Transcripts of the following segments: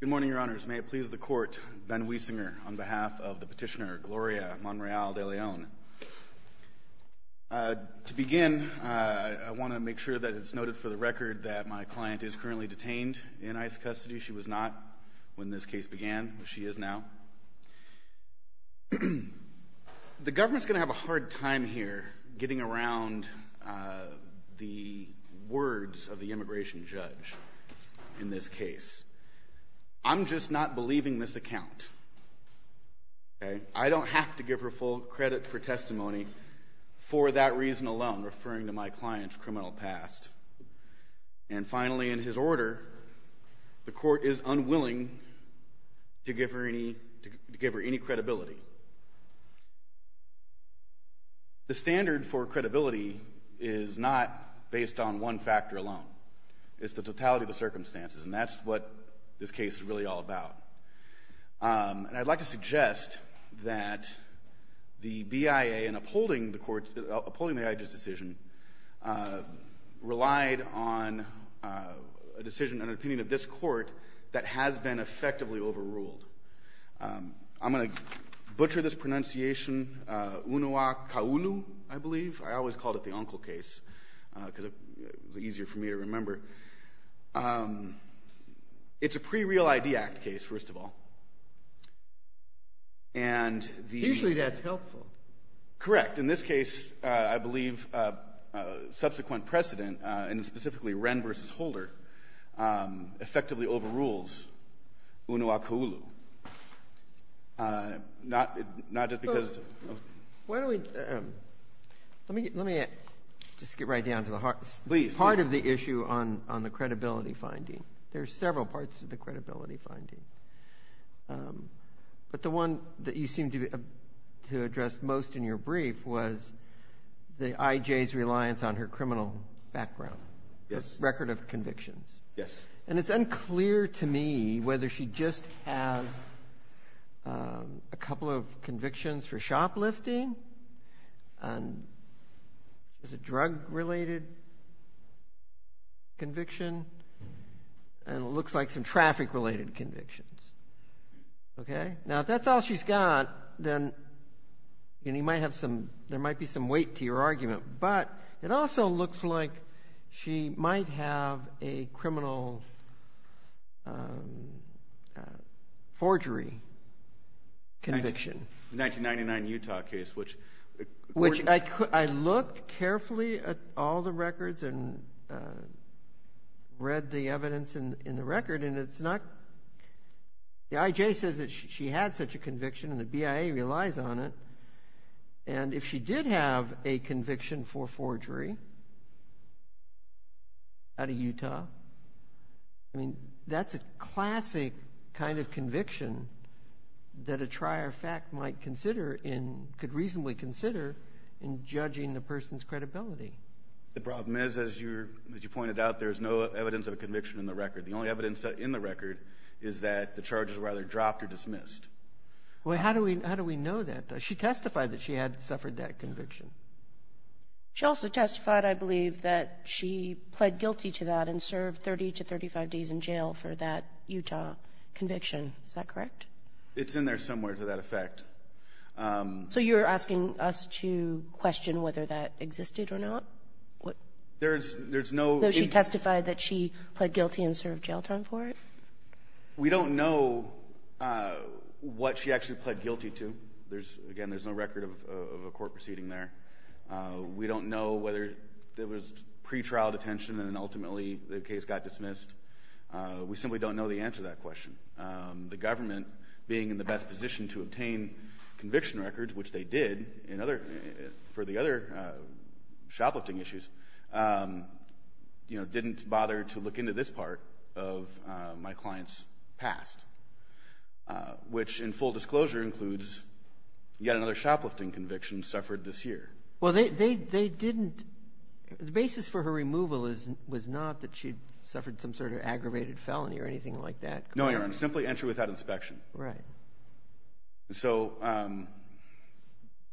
Good morning, Your Honors. May it please the Court, Ben Wiesinger on behalf of the petitioner Gloria Monreal De Leon. To begin, I want to make sure that it's noted for the record that my client is currently detained in ICE custody. She was not when this case began, but she is now. The government's going to have a hard time here getting around the words of the immigration judge in this case. I'm just not believing this account. I don't have to give her full credit for testimony for that reason alone, referring to my client's criminal past. And finally, in his order, the Court is unwilling to give her any credibility. The standard for credibility is not based on one factor alone. It's the totality of the circumstances, and that's what this case is really all about. And I'd like to suggest that the BIA, in upholding the court's, upholding the judge's decision, relied on a decision and an opinion of this Court that has been effectively overruled. I'm going to butcher this pronunciation, Unua Kaulu, I believe. I always called it the uncle case, because it was easier for me to remember. It's a pre-Real ID Act case, first of all. And the Usually that's helpful. Correct. In this case, I believe subsequent precedent, and effectively overrules Unua Kaulu, not just because of Why don't we, let me, let me just get right down to the heart, please. Part of the issue on on the credibility finding, there's several parts of the credibility finding. But the one that you seem to, to address most in your brief was the IJ's reliance on her criminal background. Yes. Record of convictions. Yes. And it's unclear to me whether she just has a couple of convictions for shoplifting, a drug-related conviction, and it looks like some traffic-related convictions. Okay? Now, if that's all she's got, then, and you might have some, there might be some weight to your argument, but it also looks like she might have a criminal forgery conviction. The 1999 Utah case, which Which I looked carefully at all the records and read the evidence in the record, and it's not, the IJ says that she had such a conviction and the BIA relies on it. And if she did have a conviction for forgery out of Utah, I mean, that's a classic kind of conviction that a trier of fact might consider in, could reasonably consider in judging the person's credibility. The problem is, as you're, as you pointed out, there's no evidence of a is that the charges were either dropped or dismissed. Well, how do we, how do we know that? She testified that she had suffered that conviction. She also testified, I believe, that she pled guilty to that and served 30 to 35 days in jail for that Utah conviction. Is that correct? It's in there somewhere to that effect. So you're asking us to question whether that existed or not? What? There's, there's no She testified that she pled guilty and served jail time for it. We don't know what she actually pled guilty to. There's, again, there's no record of a court proceeding there. We don't know whether there was pretrial detention and ultimately the case got dismissed. We simply don't know the answer to that question. The government being in the best position to obtain conviction records, which they did in other, for the other shoplifting issues, you know, didn't bother to look into this part of my client's past, which in full disclosure includes yet another shoplifting conviction suffered this year. Well, they, they, they didn't, the basis for her removal is, was not that she'd suffered some sort of aggravated felony or anything like that. No, Your Honor. Simply entry without inspection. Right. So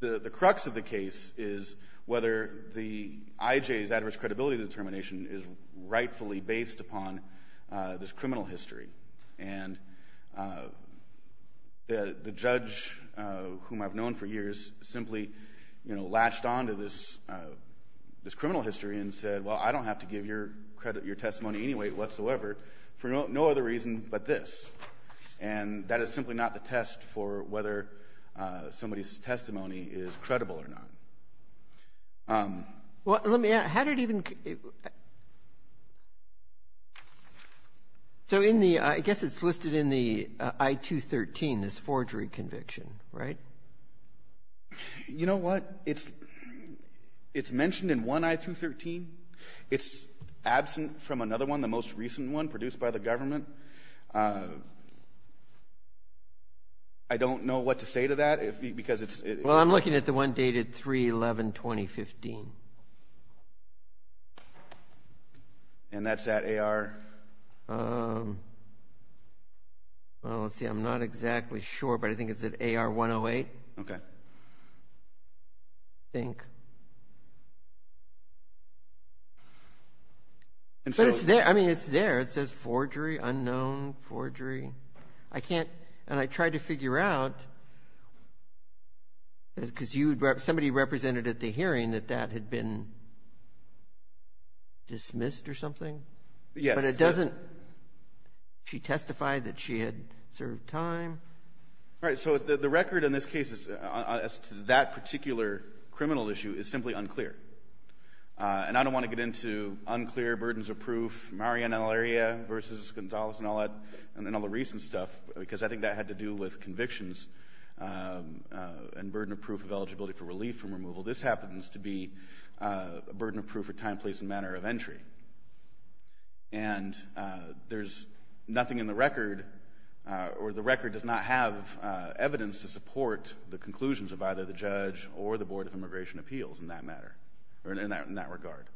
the, the crux of the case is whether the IJ's adverse credibility determination is rightfully based upon this criminal history. And the, the judge, whom I've known for years, simply, you know, latched onto this, this criminal history and said, well, I don't have to give your credit, your testimony anyway whatsoever for no, no other reason but this. And that is simply not the test for whether somebody's testimony is credible or not. Well, let me ask, how did even the, so in the, I guess it's listed in the I-213, this forgery conviction, right? You know what? It's, it's mentioned in one I-213. It's absent from another one, the most recent one produced by the government. I don't know what to say to that if, because it's, it's... Well, I'm looking at the one dated 3-11-2015. And that's at AR... Well, let's see. I'm not exactly sure, but I think it's at AR-108. Okay. I think. But it's there. I mean, it's there. It says forgery, unknown forgery. I can't, and I tried to figure out, because you, somebody represented at the hearing that that had been dismissed or something. Yes. But it doesn't, she testified that she had served time. All right. So the record in this case is, as to that particular criminal issue, is simply unclear. And I don't want to get into unclear, burdens of proof, Maria Naleria versus Gonzalez and all that, and all the recent stuff, because I think that had to do with convictions and burden of proof of eligibility for relief from removal. This happens to be a burden of proof for time, place, and manner of entry. And there's nothing in the record, or the record does not have evidence to support the conclusions of either the judge or the Board of Immigration Appeals in that matter, or in that regard.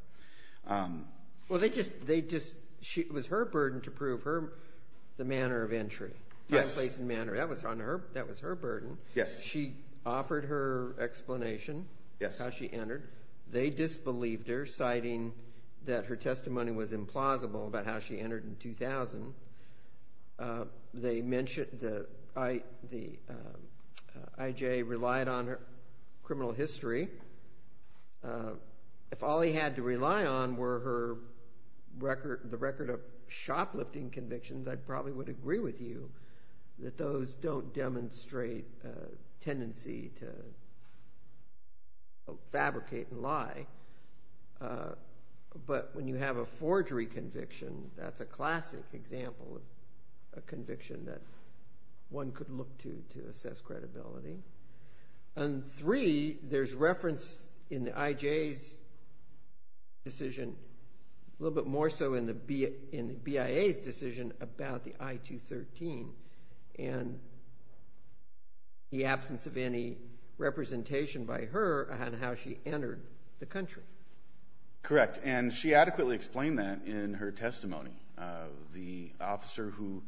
Well, they just, they just, it was her burden to prove her, the manner of entry. Yes. Time, place, and manner. That was on her, that was her burden. Yes. She offered her explanation. Yes. How she entered. They disbelieved her, citing that her testimony was implausible about how she entered in 2000. They mentioned that the IJ relied on her criminal history. If all he had to rely on were her record, the record of shoplifting convictions, I probably would agree with you that those don't demonstrate a tendency to fabricate and lie. But when you have a forgery conviction, that's a classic example of a conviction that one could look to to assess credibility. And three, there's reference in the IJ's decision, a little bit more so in the BIA's decision about the I-213. And the absence of any representation by her on how she entered the country. Correct. And she adequately explained that in her testimony. The officer who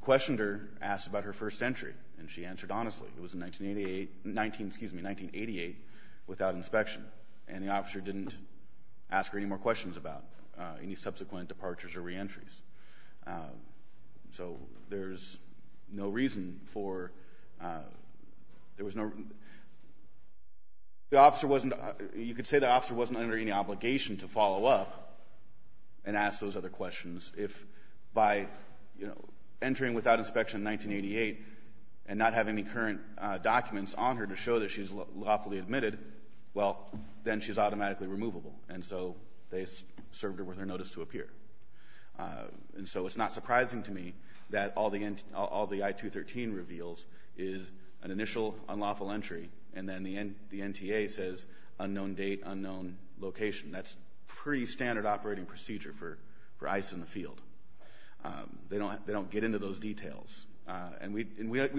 questioned her asked about her first entry, and she answered honestly. It was in 1988, excuse me, 1988, without inspection. And the officer didn't ask her any more questions about any subsequent departures or reentries. So there's no reason for, there was no, the officer wasn't, you could say the officer wasn't under any obligation to follow up and ask those other questions. If by, you know, entering without inspection in 1988 and not having any current documents on her to show that she's lawfully admitted, well, then she's automatically removable. And so they served her with her notice to appear. And so it's not surprising to me that all the I-213 reveals is an initial unlawful entry, and then the NTA says unknown date, unknown location. That's pretty standard operating procedure for ICE in the field. They don't get into those details. And we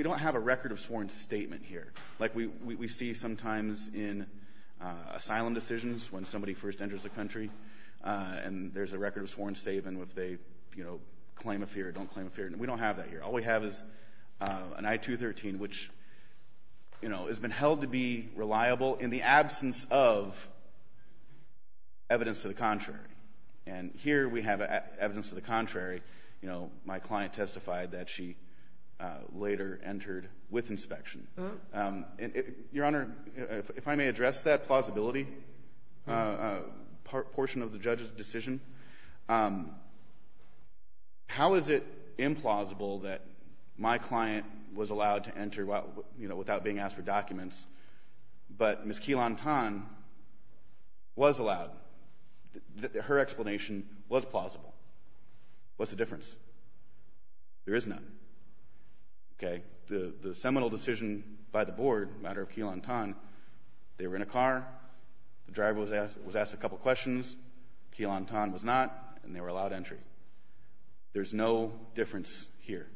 don't have a record of sworn statement here. Like we see sometimes in asylum decisions when somebody first enters the country, and there's a record of sworn statement if they, you know, claim a fear or don't claim a fear. We don't have that here. All we have is an I-213, which, you know, has been held to be reliable in the absence of evidence to the contrary. And here we have evidence to the contrary. You know, my client testified that she later entered with inspection. And, Your Honor, if I may address that plausibility portion of the judge's decision. How is it implausible that my client was allowed to enter, you know, without being asked for documents, but Ms. Keelan Tan was allowed? Her explanation was plausible. What's the difference? There is none. Okay. The seminal decision by the board, matter of Keelan Tan, they were in a car. The driver was asked a couple questions. Keelan Tan was not. And they were allowed entry. There's no difference here.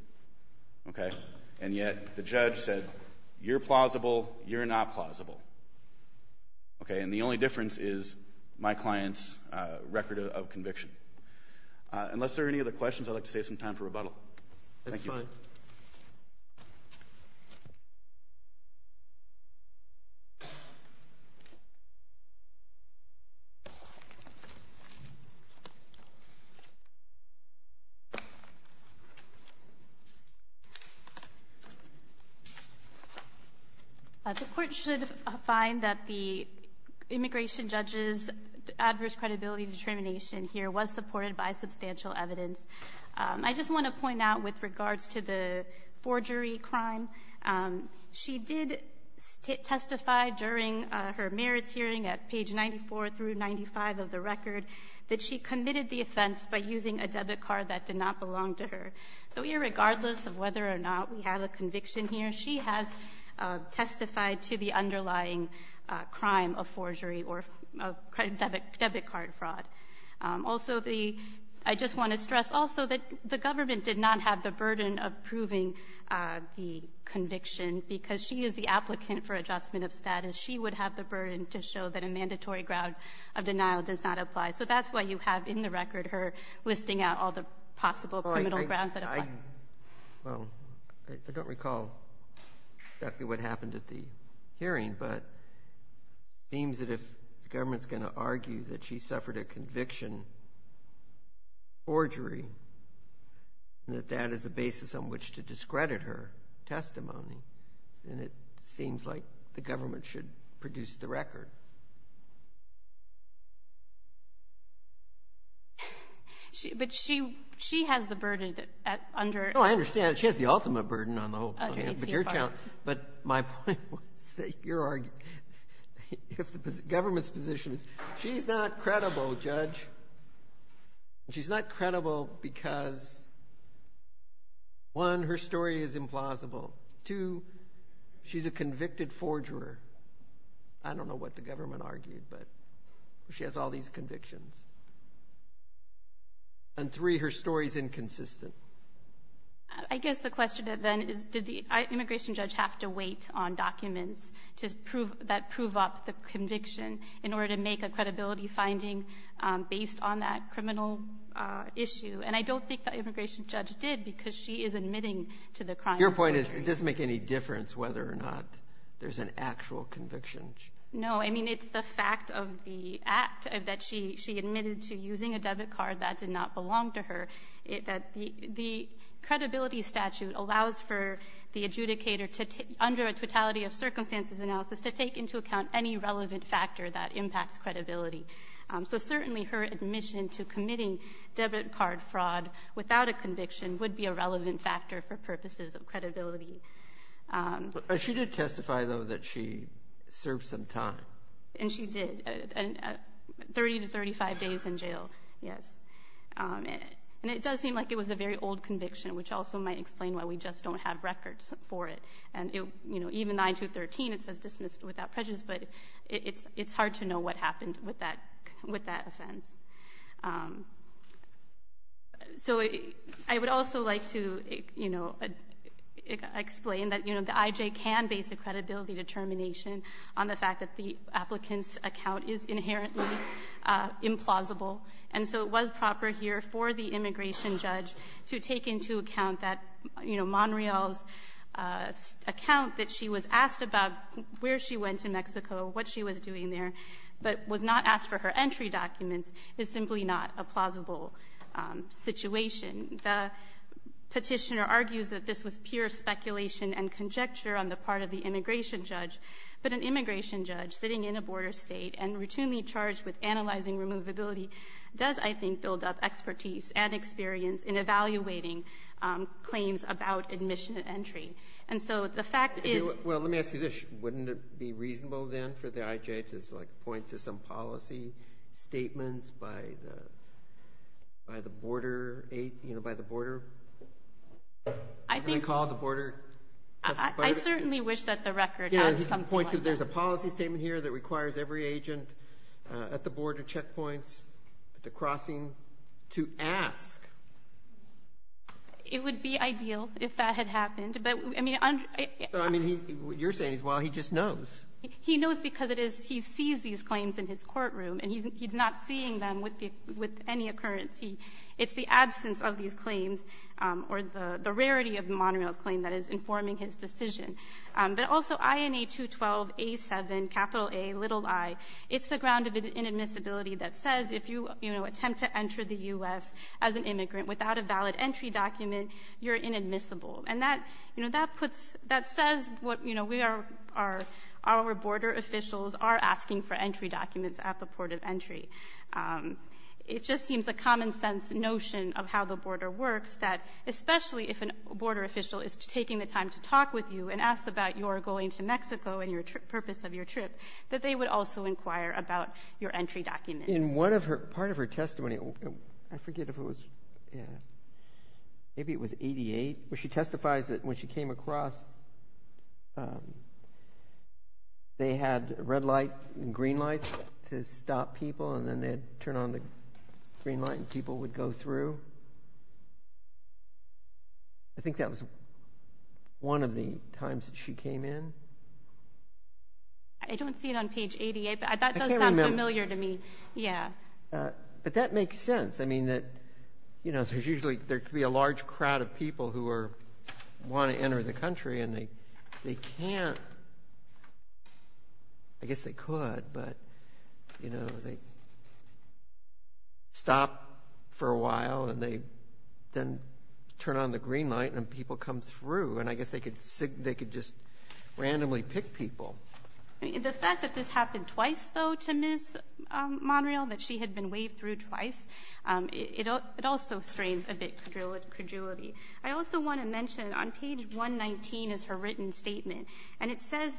Okay. And yet the judge said, you're plausible. You're not plausible. Okay. And the only difference is my client's record of conviction. Unless there are any other questions, I'd like to save some time for rebuttal. That's fine. The court should find that the immigration judge's adverse credibility determination here was supported by substantial evidence. I just want to point out with regards to the forgery crime, she did testify during her merits hearing at page 94 through 95 of the record that she committed the offense by using a debit card that did not belong to her. So irregardless of whether or not we have a conviction here, she has testified to the underlying crime of forgery or debit card fraud. Also, I just want to stress also that the government did not have the burden of proving the conviction because she is the applicant for adjustment of status. She would have the burden to show that a mandatory ground of denial does not apply. So that's why you have in the record her listing out all the possible criminal grounds that apply. Well, I don't recall exactly what happened at the hearing, but it seems that if the government has a conviction, forgery, that that is a basis on which to discredit her testimony. And it seems like the government should produce the record. But she has the burden under it. No, I understand. She has the ultimate burden on the whole. But my point was that your argument, if the government's position is she's not credible, Judge, she's not credible because, one, her story is implausible. Two, she's a convicted forger. I don't know what the government argued, but she has all these convictions. And three, her story is inconsistent. I guess the question then is did the immigration judge have to wait on documents that prove up the conviction in order to make a credibility finding based on that criminal issue? And I don't think the immigration judge did because she is admitting to the crime. Your point is it doesn't make any difference whether or not there's an actual conviction. No. I mean, it's the fact of the act that she admitted to using a debit card that did not belong to her, that the credibility statute allows for the adjudicator to, under a totality of circumstances analysis, to take into account any relevant factor that impacts credibility. So certainly her admission to committing debit card fraud without a conviction would be a relevant factor for purposes of credibility. But she did testify, though, that she served some time. And she did, 30 to 35 days in jail, yes. And it does seem like it was a very old conviction, which also might explain why we just don't have records for it. And, you know, even 9213, it says dismissed without prejudice. But it's hard to know what happened with that offense. So I would also like to, you know, explain that, you know, the IJ can base a credibility determination on the fact that the applicant's account is inherently implausible. And so it was proper here for the immigration judge to take into account that, you know, Monreal's account that she was asked about where she went to Mexico, what she was doing there, but was not asked for her entry documents is simply not a plausible situation. The petitioner argues that this was pure speculation and conjecture on the part of the immigration judge. But an immigration judge sitting in a border state and routinely charged with analyzing removability does, I think, build up expertise and experience in evaluating claims about admission and entry. And so the fact is— Well, let me ask you this. Wouldn't it be reasonable, then, for the IJ to, like, point to some policy statements by the border, you know, by the border? I think— They call it the border— I certainly wish that the record had some point— There's a policy statement here that requires every agent at the border checkpoints, at the crossing, to ask. It would be ideal if that had happened. But, I mean— I mean, what you're saying is, well, he just knows. He knows because it is he sees these claims in his courtroom, and he's not seeing them with any occurrence. It's the absence of these claims or the rarity of Monreal's claim that is informing his decision. But also, INA 212A7Ai, it's the ground of inadmissibility that says if you, you know, attempt to enter the U.S. as an immigrant without a valid entry document, you're inadmissible. And that, you know, that puts—that says what, you know, we are—our border officials are asking for entry documents at the port of entry. It just seems a common-sense notion of how the border works that, especially if a border official is taking the time to talk with you and asks about your going to Mexico and your purpose of your trip, that they would also inquire about your entry documents. In one of her—part of her testimony, I forget if it was, yeah, maybe it was 88, where she testifies that when she came across, they had red light and green lights to stop people, and then they'd turn on the green light, and people would go through. I think that was one of the times that she came in. I don't see it on page 88, but that does sound familiar to me. Yeah. But that makes sense. I mean, that, you know, there's usually — there could be a large crowd of people who are — want to enter the country, and they can't — I guess they could, but, you know, they stop for a while, and they then turn on the green light, and people come through. And I guess they could just randomly pick people. The fact that this happened twice, though, to Ms. Monreal, that she had been waved through twice, it also strains a bit credulity. I also want to mention on page 119 is her written statement. And it says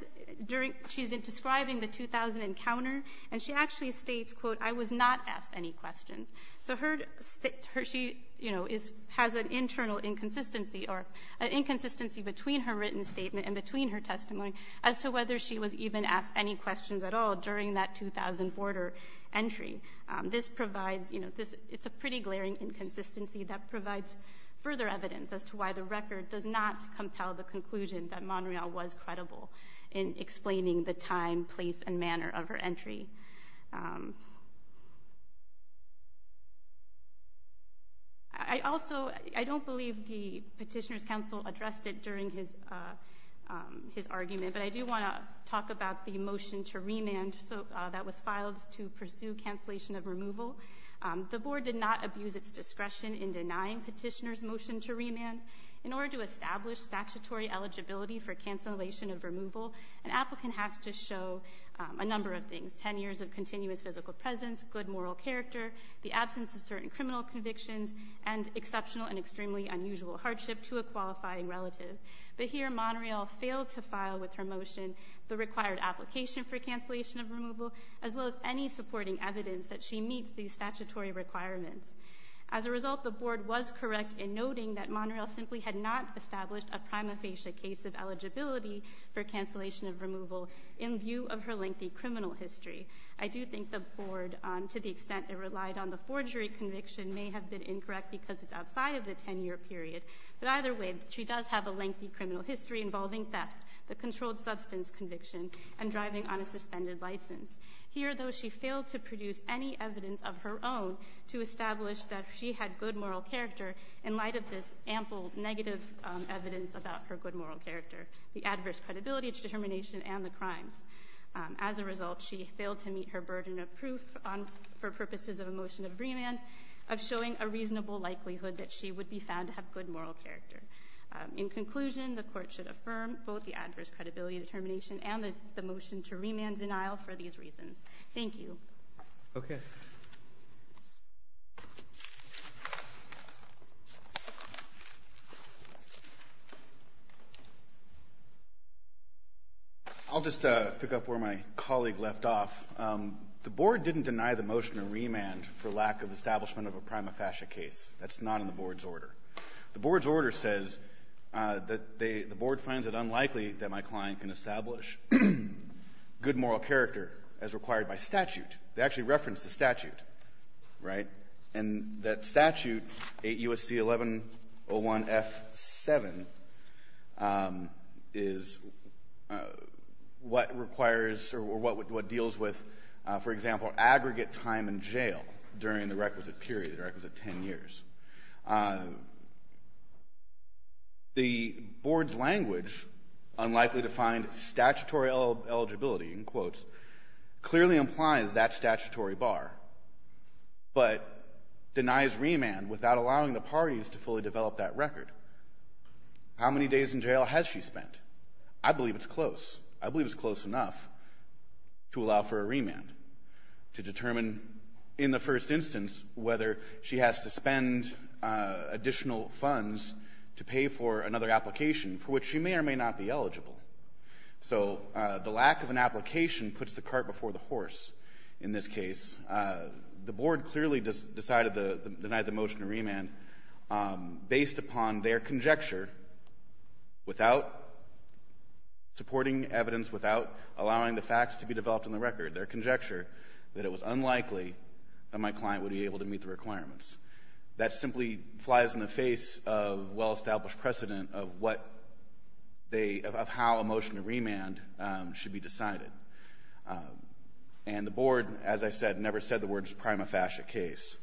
during — she's describing the 2000 encounter, and she actually states, quote, I was not asked any questions. So her — she, you know, has an internal inconsistency or an inconsistency between her written statement and between her testimony as to whether she was even asked any questions at all during that 2000 border entry. This provides — you know, this — it's a pretty glaring inconsistency that provides further evidence as to why the record does not compel the conclusion that Monreal was credible in explaining the time, place, and manner of her entry. I also — I don't believe the petitioner's counsel addressed it during his argument, but I do want to talk about the motion to remand that was filed to pursue cancellation of removal. The board did not abuse its discretion in denying petitioner's motion to remand. In order to establish statutory eligibility for cancellation of removal, an applicant has to show a number of things — 10 years of continuous physical presence, good moral character, the absence of certain criminal convictions, and exceptional and extremely unusual hardship to a qualifying relative. But here, Monreal failed to file with her motion the required application for cancellation of removal, as well as any supporting evidence that she meets these statutory requirements. As a result, the board was correct in noting that Monreal simply had not established a in view of her lengthy criminal history. I do think the board, to the extent it relied on the forgery conviction, may have been incorrect because it's outside of the 10-year period. But either way, she does have a lengthy criminal history involving theft, the controlled substance conviction, and driving on a suspended license. Here, though, she failed to produce any evidence of her own to establish that she had good moral character in light of this ample negative evidence about her good moral character. The adverse credibility determination and the crimes. As a result, she failed to meet her burden of proof for purposes of a motion of remand of showing a reasonable likelihood that she would be found to have good moral character. In conclusion, the court should affirm both the adverse credibility determination and the motion to remand denial for these reasons. Thank you. Okay. I'll just pick up where my colleague left off. The board didn't deny the motion to remand for lack of establishment of a prima facie case. That's not in the board's order. The board's order says that they the board finds it unlikely that my client can establish good moral character as required by statute. They actually reference the statute, right? And that statute, 8 U.S.C. 1101 F7, is what requires or what deals with, for example, aggregate time in jail during the requisite period, the requisite 10 years. The board's language, unlikely to find statutory eligibility, in quotes, clearly implies that statutory bar, but denies remand without allowing the parties to fully develop that record. How many days in jail has she spent? I believe it's close. I believe it's close enough to allow for a remand to determine, in the first instance, whether she has to spend additional funds to pay for another application for which she may or may not be eligible. So the lack of an application puts the cart before the horse in this case. The board clearly decided to deny the motion to remand based upon their conjecture without supporting evidence, without allowing the facts to be developed in the record, their conjecture that it was unlikely that my client would be able to meet the requirements. That simply flies in the face of well-established precedent of what they, of how a motion to remand should be decided. And the board, as I said, never said the words prima facie case.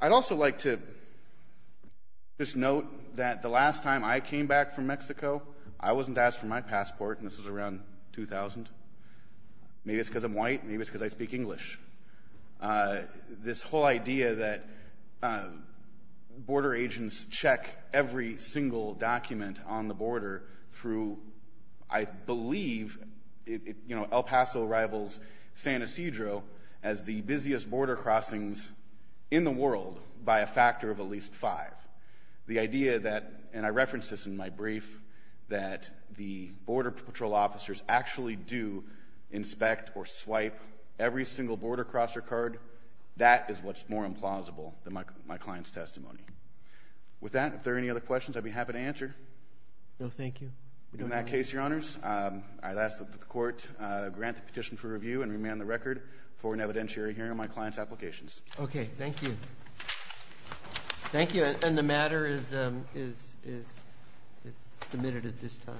I'd also like to just note that the last time I came back from Mexico, I wasn't asked for my passport, and this was around 2000. Maybe it's because I'm white. Maybe it's because I speak English. But this whole idea that border agents check every single document on the border through, I believe, El Paso rivals San Ysidro as the busiest border crossings in the world by a factor of at least five. The idea that, and I referenced this in my brief, that the border patrol officers actually do inspect or swipe every single border crosser card, that is what's more implausible than my client's testimony. With that, if there are any other questions, I'd be happy to answer. No, thank you. In that case, Your Honors, I'd ask that the court grant the petition for review and remand the record for an evidentiary hearing on my client's applications. Okay. Thank you. Thank you. And the matter is submitted at this time.